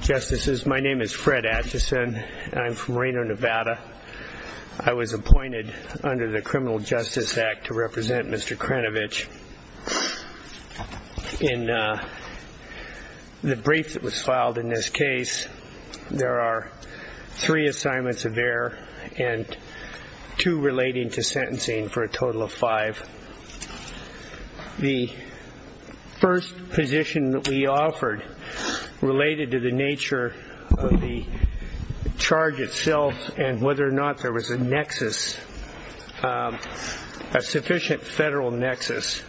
Justices, my name is Fred Atchison and I'm from Reno, Nevada. I was appointed under the Criminal Justice Act to represent Mr. Kranovich. In the brief that was filed in this case, there are three assignments of error and two relating to sentencing for a total of five. The first position that we offered related to the nature of the charge itself and whether or not there was a nexus, a sufficient federal nexus.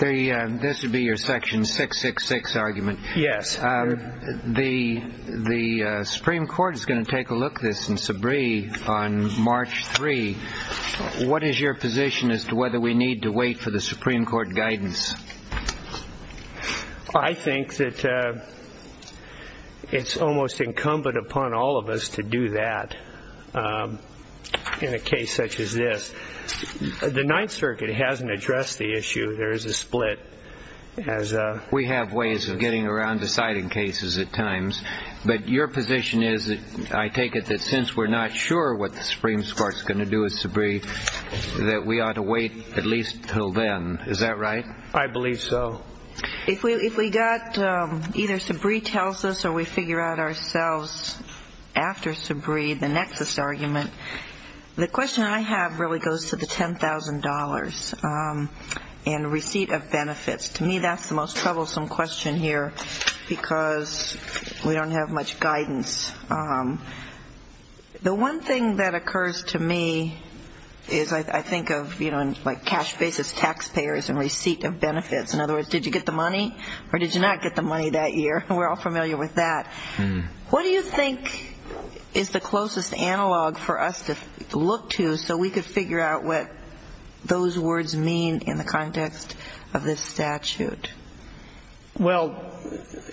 This would be your section 666 argument? Yes. The Supreme Court is going to take a look at this in Sabree on March 3. What is your position as to whether we need to wait for the Supreme Court guidance? I think that it's almost incumbent upon all of us to do that in a case such as this. The Ninth Circuit hasn't addressed the issue. There is a split. We have ways of getting around deciding cases at times, but your position is that I take it that since we're not sure what the Supreme Court is going to do with Sabree, that we ought to wait at least until then. Is that right? I believe so. If we got either Sabree tells us or we figure out ourselves after Sabree, the nexus argument, the question I have really goes to the $10,000 and receipt of benefits. To me, that's the most troublesome question here because we don't have much guidance. The one thing that occurs to me is I think of cash basis taxpayers and receipt of benefits. In other words, did you get the money or did you not get the money that year? We're all familiar with that. What do you think is the closest analog for us to look to so we could figure out what those words mean in the context of this statute? Well,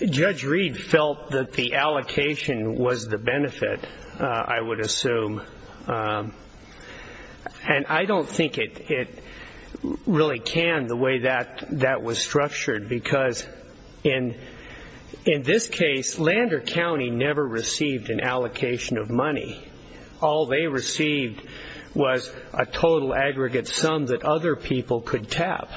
Judge Reed felt that the allocation was the benefit, I would assume. And I don't think it really can the way that that was structured because in this case, Lander County never received an allocation of money. All they received was a total aggregate sum that other people could tap.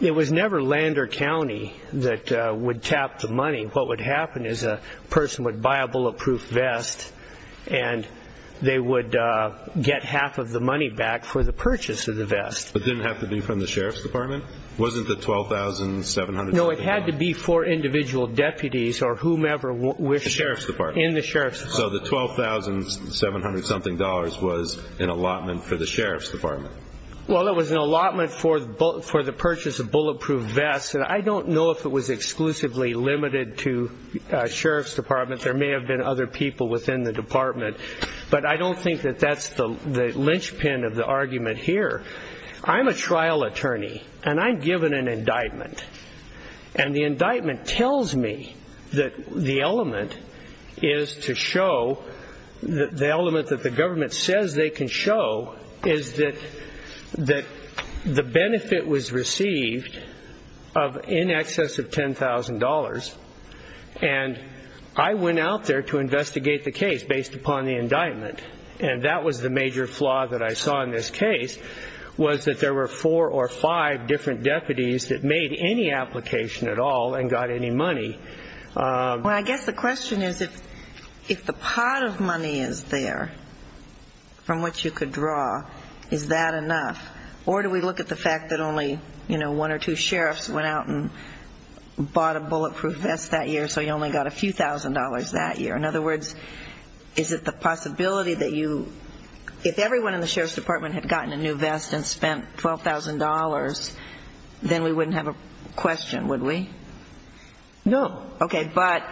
It was never Lander County that would tap the money. What would happen is a person would buy a bulletproof vest and they would get half of the money back for the purchase of the vest. But it didn't have to be from the Sheriff's Department? Wasn't the $12,700? No, it had to be for individual deputies or whomever in the Sheriff's Department. So the $12,700 was an allotment for the Sheriff's Department? Well, it was an allotment for the purchase of bulletproof vests. And I don't know if it was exclusively limited to Sheriff's Department. There may have been other people within the department. But I don't think that that's the linchpin of the argument here. I'm a trial attorney and I'm given an indictment. And the indictment tells me that the element that the government says they can show is that the benefit was received of in excess of $10,000. And I went out there to investigate the case based upon the indictment. And that was the major flaw that I saw in this case, was that there were four or five different I guess the question is, if the pot of money is there, from what you could draw, is that enough? Or do we look at the fact that only, you know, one or two sheriffs went out and bought a bulletproof vest that year, so you only got a few thousand dollars that year? In other words, is it the possibility that you, if everyone in the Sheriff's Department had gotten a new vest and spent $12,000, then we wouldn't have a question, would we? No. Okay. But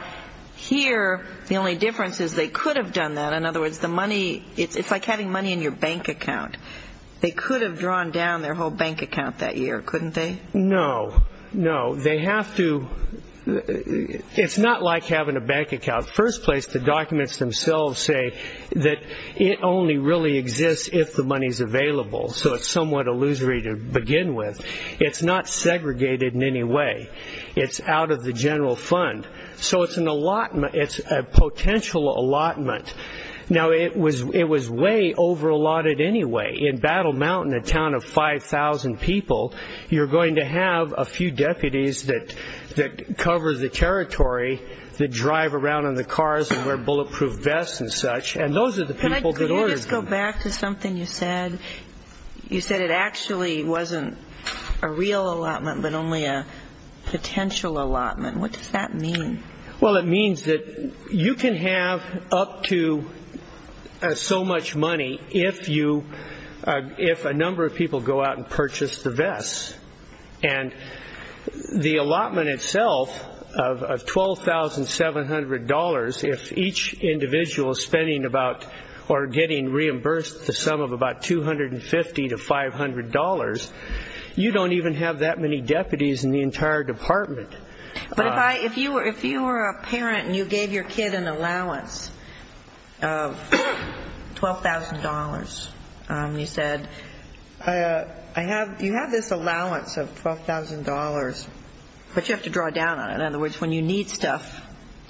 here, the only difference is they could have done that. In other words, the money, it's like having money in your bank account. They could have drawn down their whole bank account that year, couldn't they? No. No. They have to. It's not like having a bank account. First place, the documents themselves say that it only really exists if the money's available. So it's somewhat illusory to begin with. It's not segregated in any way. It's out of the general fund. So it's an allotment. It's a potential allotment. Now, it was way over allotted anyway. In Battle Mountain, a town of 5,000 people, you're going to have a few deputies that cover the territory, that drive around in the cars and wear bulletproof vests and such. And those are the people that ordered them. Can I just go back to something you said? You said it actually wasn't a real allotment, but only a potential allotment. What does that mean? Well, it means that you can have up to so much money if a number of people go out and purchase the vests. And the allotment itself of $12,700, if each individual is getting reimbursed the sum of about $250 to $500, you don't even have that many deputies in the entire department. But if you were a parent and you gave your kid an allowance of $12,000, you said, I have, you have this allowance of $12,000. But you have to draw down on it. In other words, when you need stuff,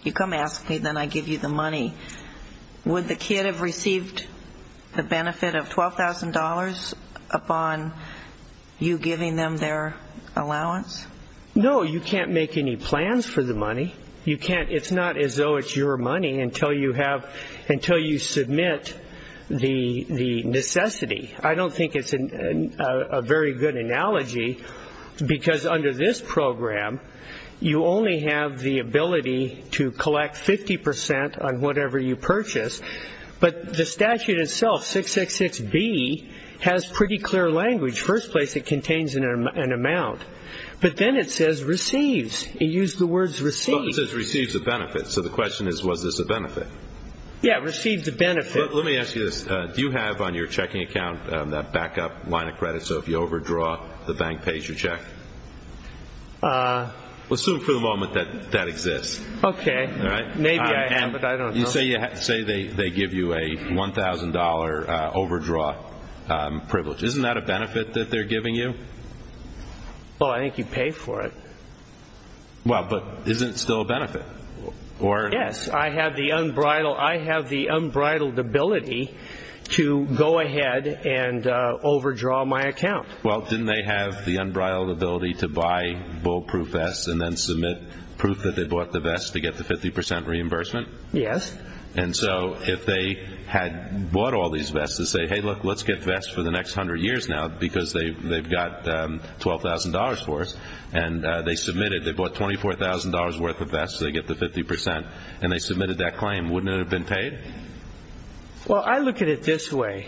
you come ask me, then I give you the money. Would the kid have received the benefit of $12,000 upon you giving them their allowance? No, you can't make any plans for the money. You can't. It's not as though it's your money until until you submit the necessity. I don't think it's a very good analogy, because under this program, you only have the ability to collect 50% on whatever you purchase. But the statute itself, 666B, has pretty clear language. First place, it contains an amount. But then it says receives. It used the words receive. It says receives a benefit. So the question is, was this a benefit? Yeah, receives a benefit. Let me ask you this. Do you have on your checking account that backup line of credit? So if you overdraw, the bank pays your check? Let's assume for the moment that that exists. Okay. Maybe I have it. I don't know. You say they give you a $1,000 overdraw privilege. Isn't that a benefit that they're giving you? Oh, I think you pay for it. Well, but is it still a benefit? Yes. I have the unbridled ability to go ahead and overdraw my account. Well, didn't they have the unbridled ability to buy bullproof vests and then submit proof that they bought the vest to get the 50% reimbursement? Yes. And so if they had bought all these vests to say, hey, look, let's get vests for the next $24,000 worth of vests so they get the 50% and they submitted that claim, wouldn't it have been paid? Well, I look at it this way.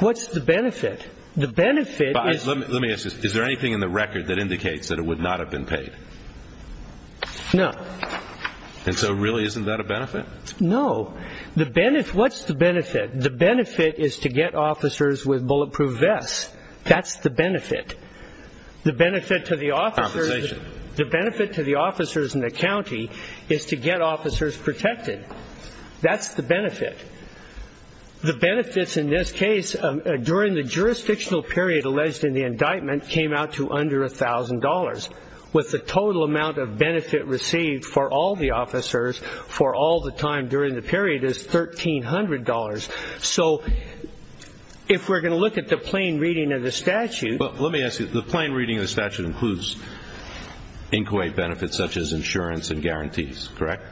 What's the benefit? The benefit is- Let me ask you this. Is there anything in the record that indicates that it would not have been paid? No. And so really, isn't that a benefit? No. What's the benefit? The benefit is to get officers with bulletproof vests. That's the benefit. The benefit to the officers- Compensation. The benefit to the officers in the county is to get officers protected. That's the benefit. The benefits in this case, during the jurisdictional period alleged in the indictment, came out to under $1,000, with the total amount of benefit received for all the officers for all the time during the period is $1,300. So if we're going to look at the plain reading of the statute- Inquate benefits such as insurance and guarantees, correct?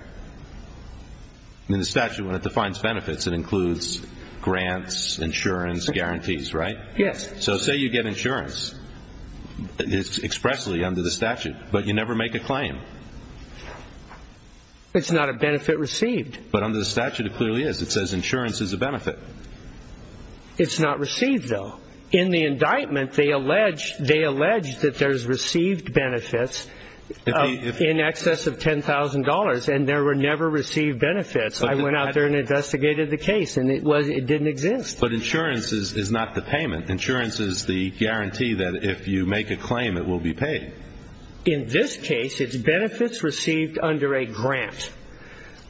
In the statute, when it defines benefits, it includes grants, insurance, guarantees, right? Yes. So say you get insurance expressly under the statute, but you never make a claim. It's not a benefit received. But under the statute, it clearly is. It says insurance is a benefit. It's not received, though. In the indictment, they allege that there's received benefits in excess of $10,000, and there were never received benefits. I went out there and investigated the case, and it didn't exist. But insurance is not the payment. Insurance is the guarantee that if you make a claim, it will be paid. In this case, it's benefits received under a grant.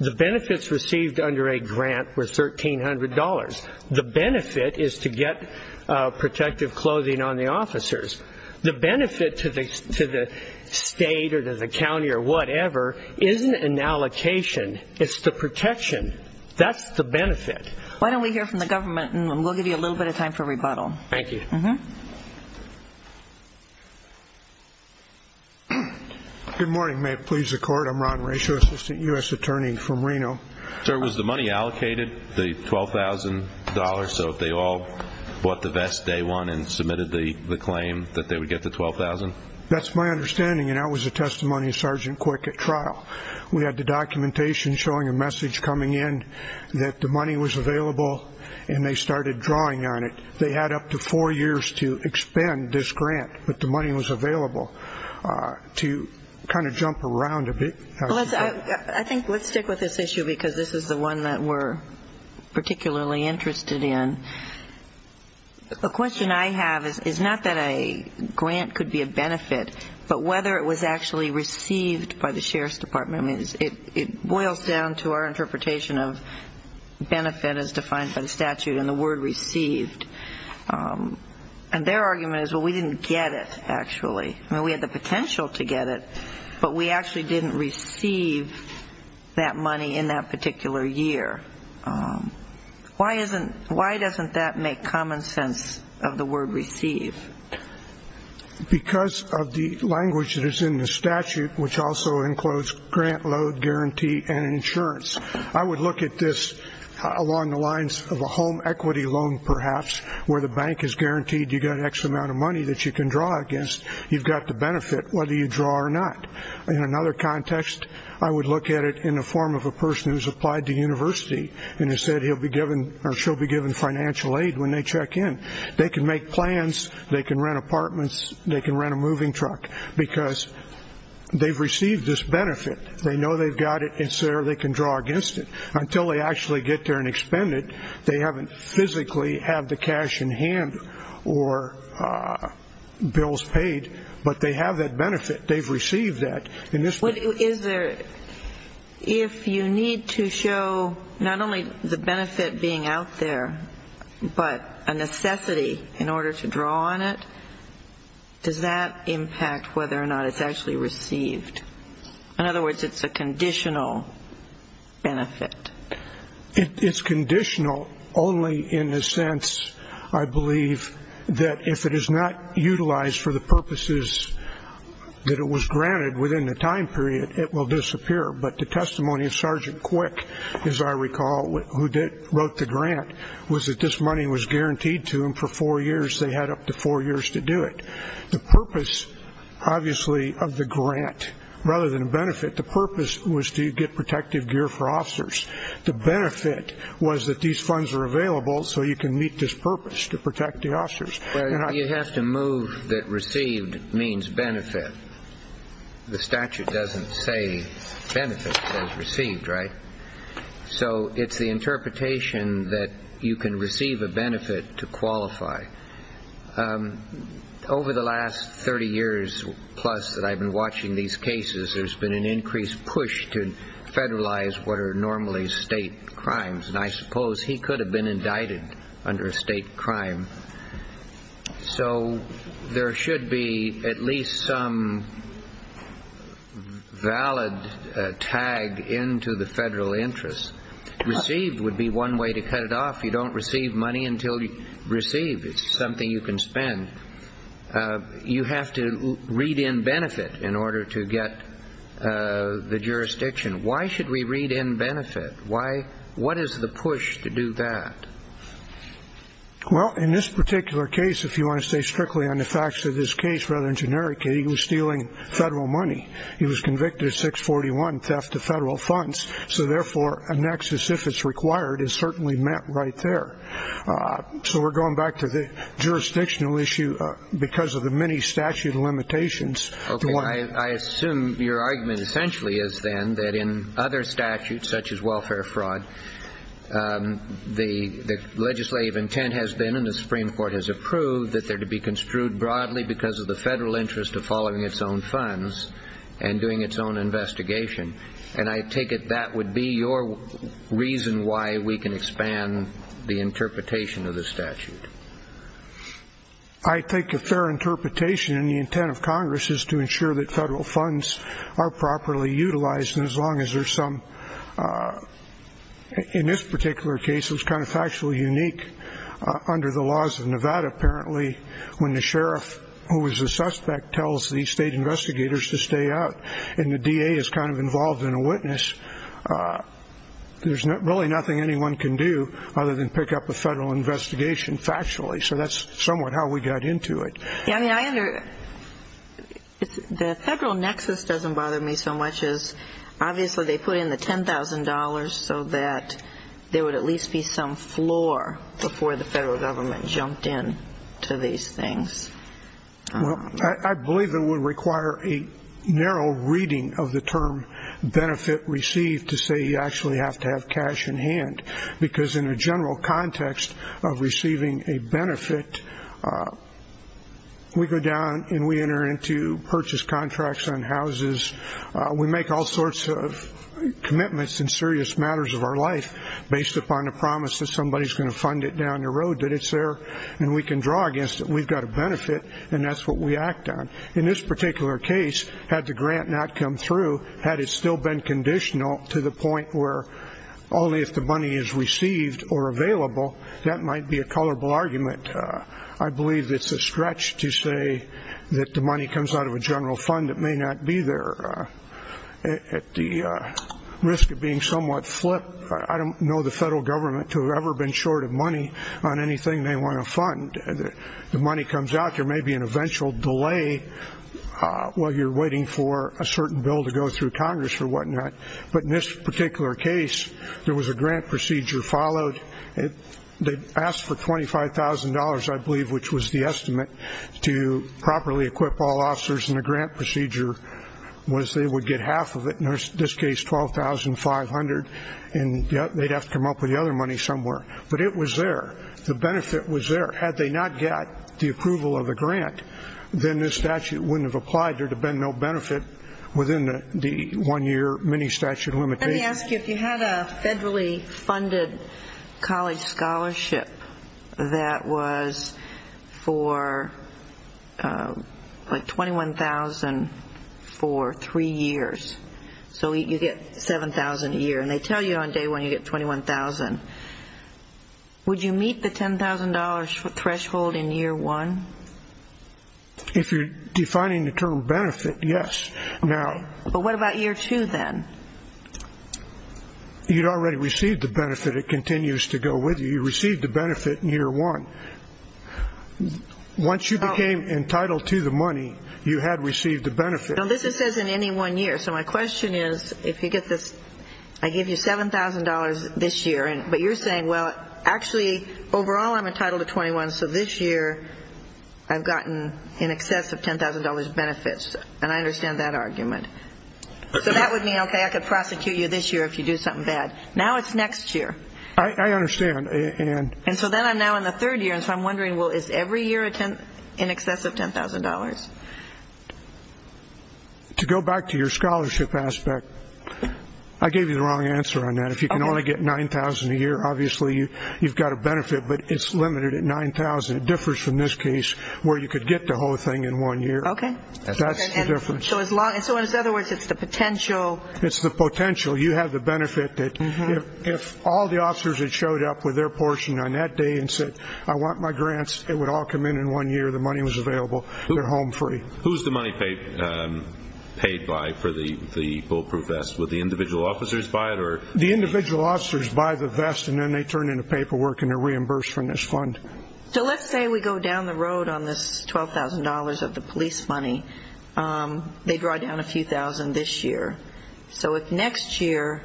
The benefits received under a grant were $1,300. The benefit is to get protective clothing on the officers. The benefit to the state or to the county or whatever isn't an allocation. It's the protection. That's the benefit. Why don't we hear from the government, and we'll give you a little bit of time for rebuttal. Thank you. Good morning. May it please the Court. I'm Ron Racio, Assistant U.S. Attorney from Reno. Sir, was the money allocated, the $12,000? So if they all bought the vest day one and that they would get the $12,000? That's my understanding, and that was a testimony of Sergeant Quick at trial. We had the documentation showing a message coming in that the money was available, and they started drawing on it. They had up to four years to expend this grant, but the money was available to kind of jump around a bit. I think let's stick with this issue because this is the one that we're Grant could be a benefit, but whether it was actually received by the Sheriff's Department, it boils down to our interpretation of benefit as defined by the statute and the word received. And their argument is, well, we didn't get it, actually. I mean, we had the potential to get it, but we actually didn't receive that money in that particular year. Why doesn't that make common sense of the word receive? Because of the language that is in the statute, which also includes grant, load, guarantee, and insurance. I would look at this along the lines of a home equity loan, perhaps, where the bank is guaranteed you got an X amount of money that you can draw against. You've got the benefit, whether you draw or not. In another context, I would look at it in the form of a person who's applied to university and has said he'll be given or she'll be given financial aid when they check in. They can make plans. They can rent apartments. They can rent a moving truck because they've received this benefit. They know they've got it, and so they can draw against it. Until they actually get there and expend it, they haven't physically had the cash in hand or bills paid, but they have that benefit. They've received that. Is there, if you need to show not only the benefit being out there, but a necessity in order to draw on it, does that impact whether or not it's actually received? In other words, it's a conditional benefit. It's conditional only in the sense, I believe, that if it is not utilized for the time period, it will disappear. But the testimony of Sergeant Quick, as I recall, who wrote the grant, was that this money was guaranteed to him for four years. They had up to four years to do it. The purpose, obviously, of the grant rather than benefit, the purpose was to get protective gear for officers. The benefit was that these funds are available so you can meet this purpose to protect the officers. You have to move that received means benefit. The statute doesn't say benefit as received, right? So it's the interpretation that you can receive a benefit to qualify. Over the last 30 years plus that I've been watching these cases, there's been an increased push to federalize what are normally state crimes, and I suppose he could have been indicted under a state crime. So there should be at least some valid tag into the federal interest. Received would be one way to cut it off. You don't receive money until you receive. It's something you can spend. You have to read in benefit in order to get the jurisdiction. Why should we read in benefit? Why? What is the push to do that? Well, in this particular case, if you want to stay strictly on the facts of this case, rather than generic, he was stealing federal money. He was convicted of 641 theft of federal funds. So therefore, a nexus, if it's required, is certainly met right there. So we're going back to the jurisdictional issue because of the many statute limitations. I assume your argument essentially is then that in other statutes such as welfare fraud, the legislative intent has been in the Supreme Court has approved that there to be construed broadly because of the federal interest of following its own funds and doing its own investigation. And I take it that would be your reason why we can expand the interpretation of statute. I think a fair interpretation in the intent of Congress is to ensure that federal funds are properly utilized. And as long as there's some in this particular case, it was kind of factually unique under the laws of Nevada. Apparently, when the sheriff, who was a suspect, tells the state investigators to stay out in the D.A. is kind of involved in a case, there's really nothing anyone can do other than pick up a federal investigation factually. So that's somewhat how we got into it. Yeah, I mean, the federal nexus doesn't bother me so much as obviously they put in the $10,000 so that there would at least be some floor before the federal government jumped in to these things. Well, I believe it would require a narrow reading of the benefit received to say you actually have to have cash in hand, because in a general context of receiving a benefit, we go down and we enter into purchase contracts on houses. We make all sorts of commitments and serious matters of our life based upon the promise that somebody's going to fund it down the road, that it's there and we can draw against it. We've got a benefit and that's what we act on. In this particular case, had the grant not come through, had it still been conditional to the point where only if the money is received or available, that might be a colorable argument. I believe it's a stretch to say that the money comes out of a general fund that may not be there. At the risk of being somewhat flip, I don't know the federal government to have ever been short of money on anything they want to fund. The money comes out, there may be an eventual delay while you're waiting for a certain bill to go through Congress or whatnot, but in this particular case, there was a grant procedure followed. They asked for $25,000, I believe, which was the estimate to properly equip all officers in the grant procedure, was they would get half of it, in this case $12,500, and they'd have to come up with the other money somewhere. But it was there, the benefit was there. Had they not got the approval of the grant, then this statute wouldn't have applied, there'd have been no benefit within the one-year mini statute of limitations. Let me ask you, if you had a federally funded college scholarship that was for $21,000 for three years, so you get $7,000 a year, and they tell you on day one you get $21,000, would you meet the $10,000 threshold in year one? If you're defining the term benefit, yes. But what about year two then? You'd already received the benefit, it continues to go with you, you received the benefit in year one. Once you became entitled to the money, you had received the benefit. Now this says in any one year. So my question is, if you get this, I give you $7,000 this year, but you're saying, well, actually, overall I'm entitled to $21,000, so this year I've gotten in excess of $10,000 benefits. And I understand that argument. So that would mean, okay, I could prosecute you this year if you do something bad. Now it's next year. I understand. And so then I'm now in the third year, so I'm wondering, well, is every year in excess of $10,000? To go back to your scholarship aspect, I gave you the wrong answer on that. If you can only get $9,000 a year, obviously you've got a benefit, but it's limited at $9,000. It differs from this case where you could get the whole thing in one year. Okay. That's the difference. So in other words, it's the potential. It's the potential. You have the benefit that if all the officers had showed up with their portion on that day and said, I want my grants, it would all come in in one year, the money was available, they're home free. Who's the money paid by for the Bulletproof Vest? Would the individual officers buy it or? The individual officers buy the vest and then they turn in the paperwork and they're reimbursed from this fund. So let's say we go down the road on this $12,000 of the police money. They draw down a few thousand this year. So if next year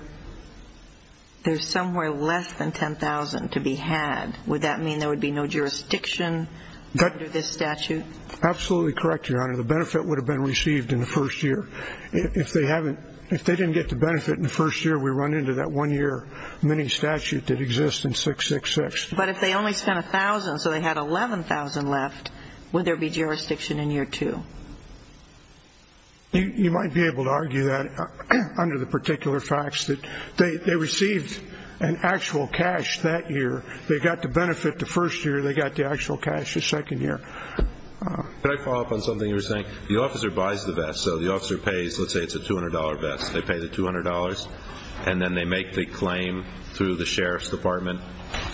there's somewhere less than $10,000 to be had, would that mean there would be no jurisdiction under this statute? Absolutely correct, Your Honor. The benefit would have been received in the first year. If they didn't get the benefit in the first year, we run into that one-year mini statute that exists in 666. But if they only spent $1,000, so they had $11,000 left, would there be jurisdiction in year two? You might be able to argue that under the particular facts that they received an actual cash that year, they got the benefit the first year, they got the actual cash the second year. Can I follow up on something you were saying? The officer buys the vest. So the officer pays, let's say it's a $200 vest. They pay the $200 and then they make the claim through the Sheriff's Department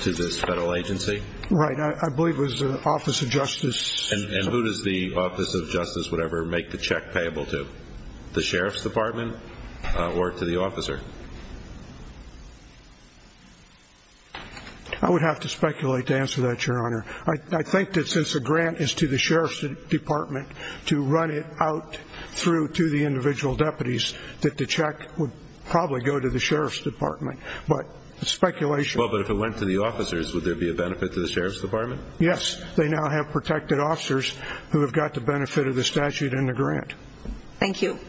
to this federal agency? Right. I believe it was the Office of Justice. And who does the Office of Justice, whatever, make the check payable to? The Sheriff's Department or to the officer? I would have to speculate to answer that, Your Honor. I think that since the grant is to the Sheriff's Department to run it out through to the individual deputies, that the check would probably go to the Sheriff's Department. But it's speculation. Well, but if it went to the officers, would there be a benefit to the Sheriff's Department? Yes. They now have protected officers who have got the benefit of the statute and the grant. Thank you.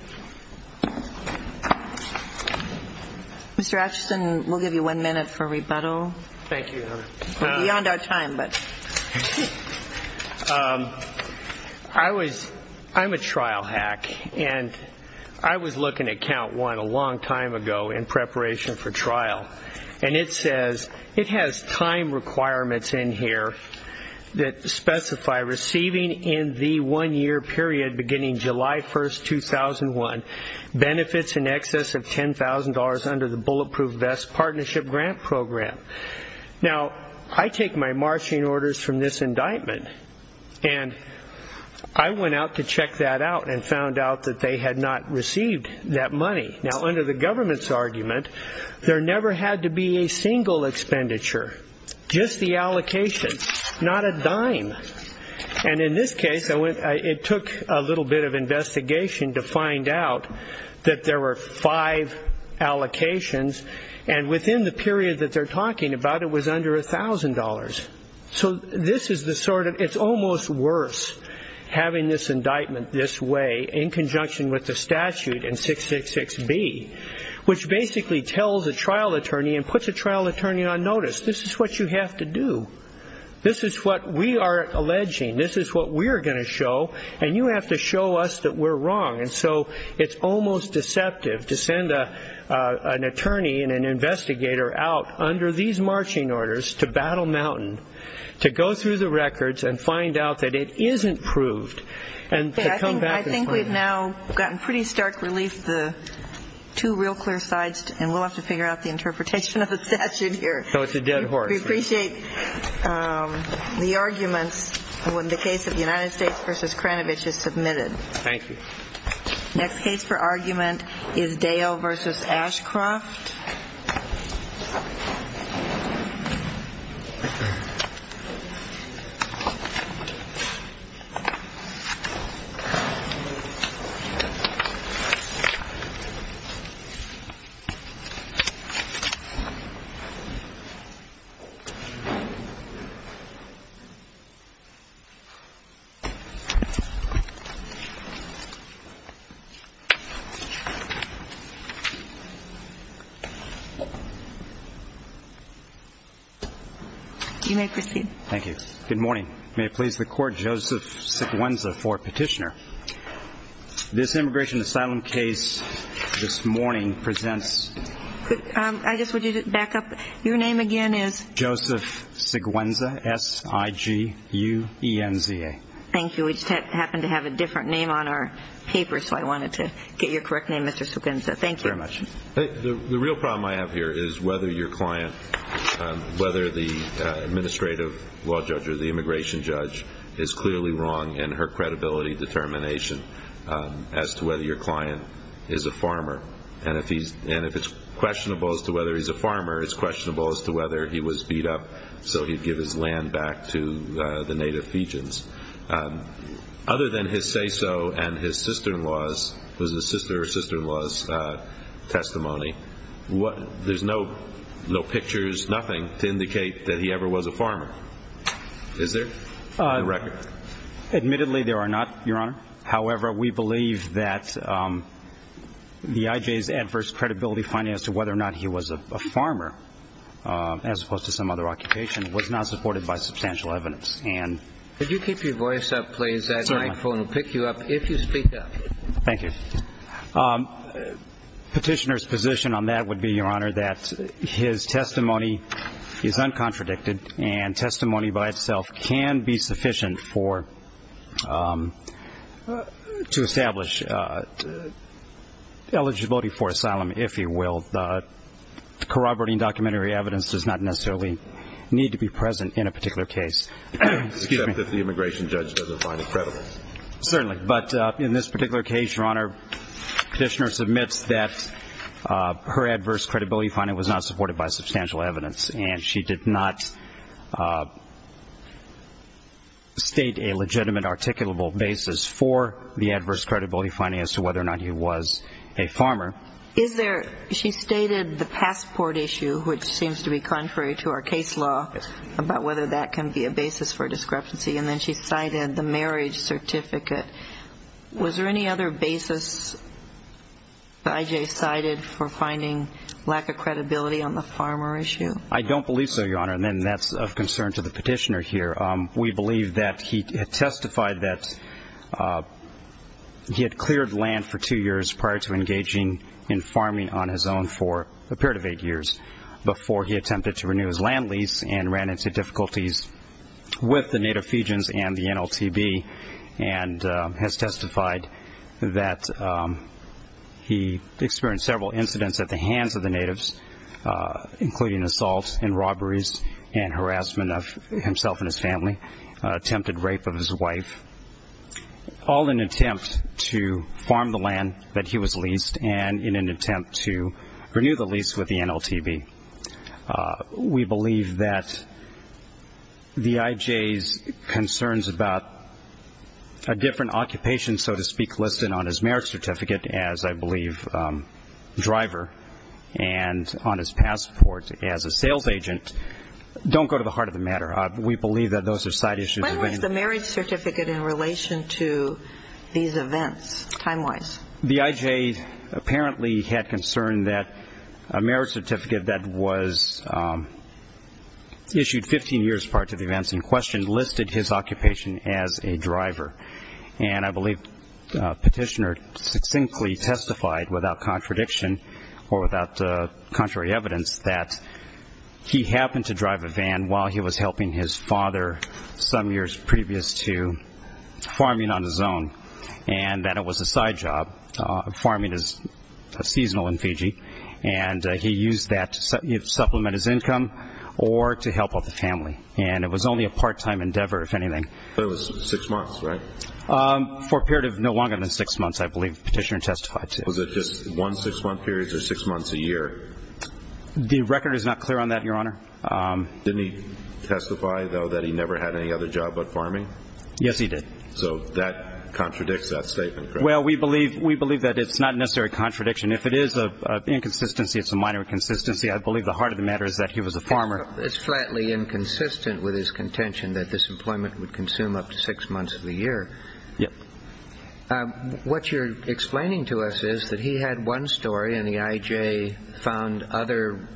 Mr. Atchison, we'll give you one minute for rebuttal. Thank you, Your Honor. We're beyond our time, but... I was, I'm a trial hack and I was looking at count one a long time ago in preparation for trial. And it says, it has time requirements in here that specify receiving in the one-year period beginning July 1st, 2001, benefits in excess of $10,000 under the Bulletproof Vest Partnership Grant Program. Now, I take my marching orders from this indictment. And I went out to check that out and found out that they had not received that money. Now, under the government's argument, there never had to be a single expenditure, just the allocation, not a dime. And in this case, I went, it took a little bit of investigation to find out that there were five allocations. And within the period that they're talking about, it was under $1,000. So this is the sort of, it's almost worse having this indictment this way in conjunction with the statute and 666B, which basically tells a trial attorney and puts a trial attorney on notice. This is what you have to do. This is what we are alleging. This is what we're going to show. And you have to show us that we're wrong. And so it's almost deceptive to send an attorney and an investigator out under these marching orders to Battle Mountain to go through the records and find out that it isn't proved and to come back. I think we've now gotten pretty stark relief, the two real clear sides. And we'll have to figure out the interpretation of the statute here. So it's a dead horse. We appreciate the arguments when the case of the United States versus Kranovich is submitted. Thank you. Next case for argument is Dale versus Ashcroft. Thank you. You may proceed. Thank you. Good morning. May it please the court. Joseph Siguenza for petitioner. This immigration asylum case this morning presents... I guess would you back up? Your name again is? Joseph Siguenza. S-I-G-U-E-N-Z-A. Thank you. We just happened to have a different name on our paper. So I wanted to get your correct name, Mr. Siguenza. Thank you very much. The real problem I have here is whether your client, whether the administrative law judge or the immigration judge is clearly wrong in her credibility determination as to whether your client is a farmer. And if it's questionable as to whether he's a farmer, it's questionable as to whether he was beat up so he'd give his land back to the native Fijians. Other than his say-so and his sister-in-law's, it was his sister or sister-in-law's testimony, there's no pictures, nothing to indicate that he ever was a farmer. Is there? Admittedly, there are not, Your Honor. However, we believe that the IJ's adverse credibility finding as to whether or not he was a farmer, as opposed to some other occupation, was not supported by substantial evidence. Could you keep your voice up, please? Sorry. My phone will pick you up if you speak up. Thank you. Petitioner's position on that would be, Your Honor, that his testimony is uncontradicted and testimony by itself can be sufficient to establish eligibility for asylum, if you will. Corroborating documentary evidence does not necessarily need to be present in a particular case. Except if the immigration judge doesn't find it credible. Certainly. But in this particular case, Your Honor, Petitioner submits that her adverse credibility finding was not supported by substantial evidence. And she did not state a legitimate articulable basis for the adverse credibility finding as to whether or not he was a farmer. Is there, she stated the passport issue, which seems to be contrary to our case law, about whether that can be a basis for discrepancy. And then she cited the marriage certificate. Was there any other basis the IJ cited for finding lack of credibility on the farmer issue? I don't believe so, Your Honor. And then that's of concern to the Petitioner here. We believe that he testified that he had cleared land for two years prior to engaging in farming on his own for a period of eight years before he attempted to renew his land lease and ran into difficulties with the native Fijians and the NLTB and has testified that he experienced several incidents at the hands of the natives, including assaults and robberies and harassment of himself and his family, attempted rape of his wife, all in attempt to farm the land that he was leased and in an attempt to renew the lease with the NLTB. We believe that the IJ's concerns about a different occupation, so to speak, listed on his marriage certificate as, I believe, driver and on his passport as a sales agent don't go to the heart of the matter. We believe that those are side issues. When was the marriage certificate in relation to these events, time-wise? The IJ apparently had concern that a marriage certificate that was issued 15 years prior to the events in question listed his occupation as a driver. And I believe Petitioner succinctly testified without contradiction or without contrary evidence that he happened to drive a van while he was helping his father some years previous to farming on his own and that it was a side job. Farming is seasonal in Fiji and he used that to supplement his income or to help out the family. And it was only a part-time endeavor, if anything. So it was six months, right? For a period of no longer than six months, I believe Petitioner testified to. Was it just one six-month period or six months a year? The record is not clear on that, Your Honor. Didn't he testify, though, that he never had any other job but farming? Yes, he did. So that contradicts that statement, correct? Well, we believe that it's not necessarily a contradiction. If it is an inconsistency, it's a minor inconsistency. I believe the heart of the matter is that he was a farmer. It's flatly inconsistent with his contention that this employment would consume up to six months of the year. Yes. What you're explaining to us is that he had one story and the IJ found other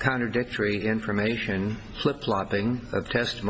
contradictory information, flip-flopping of testimony.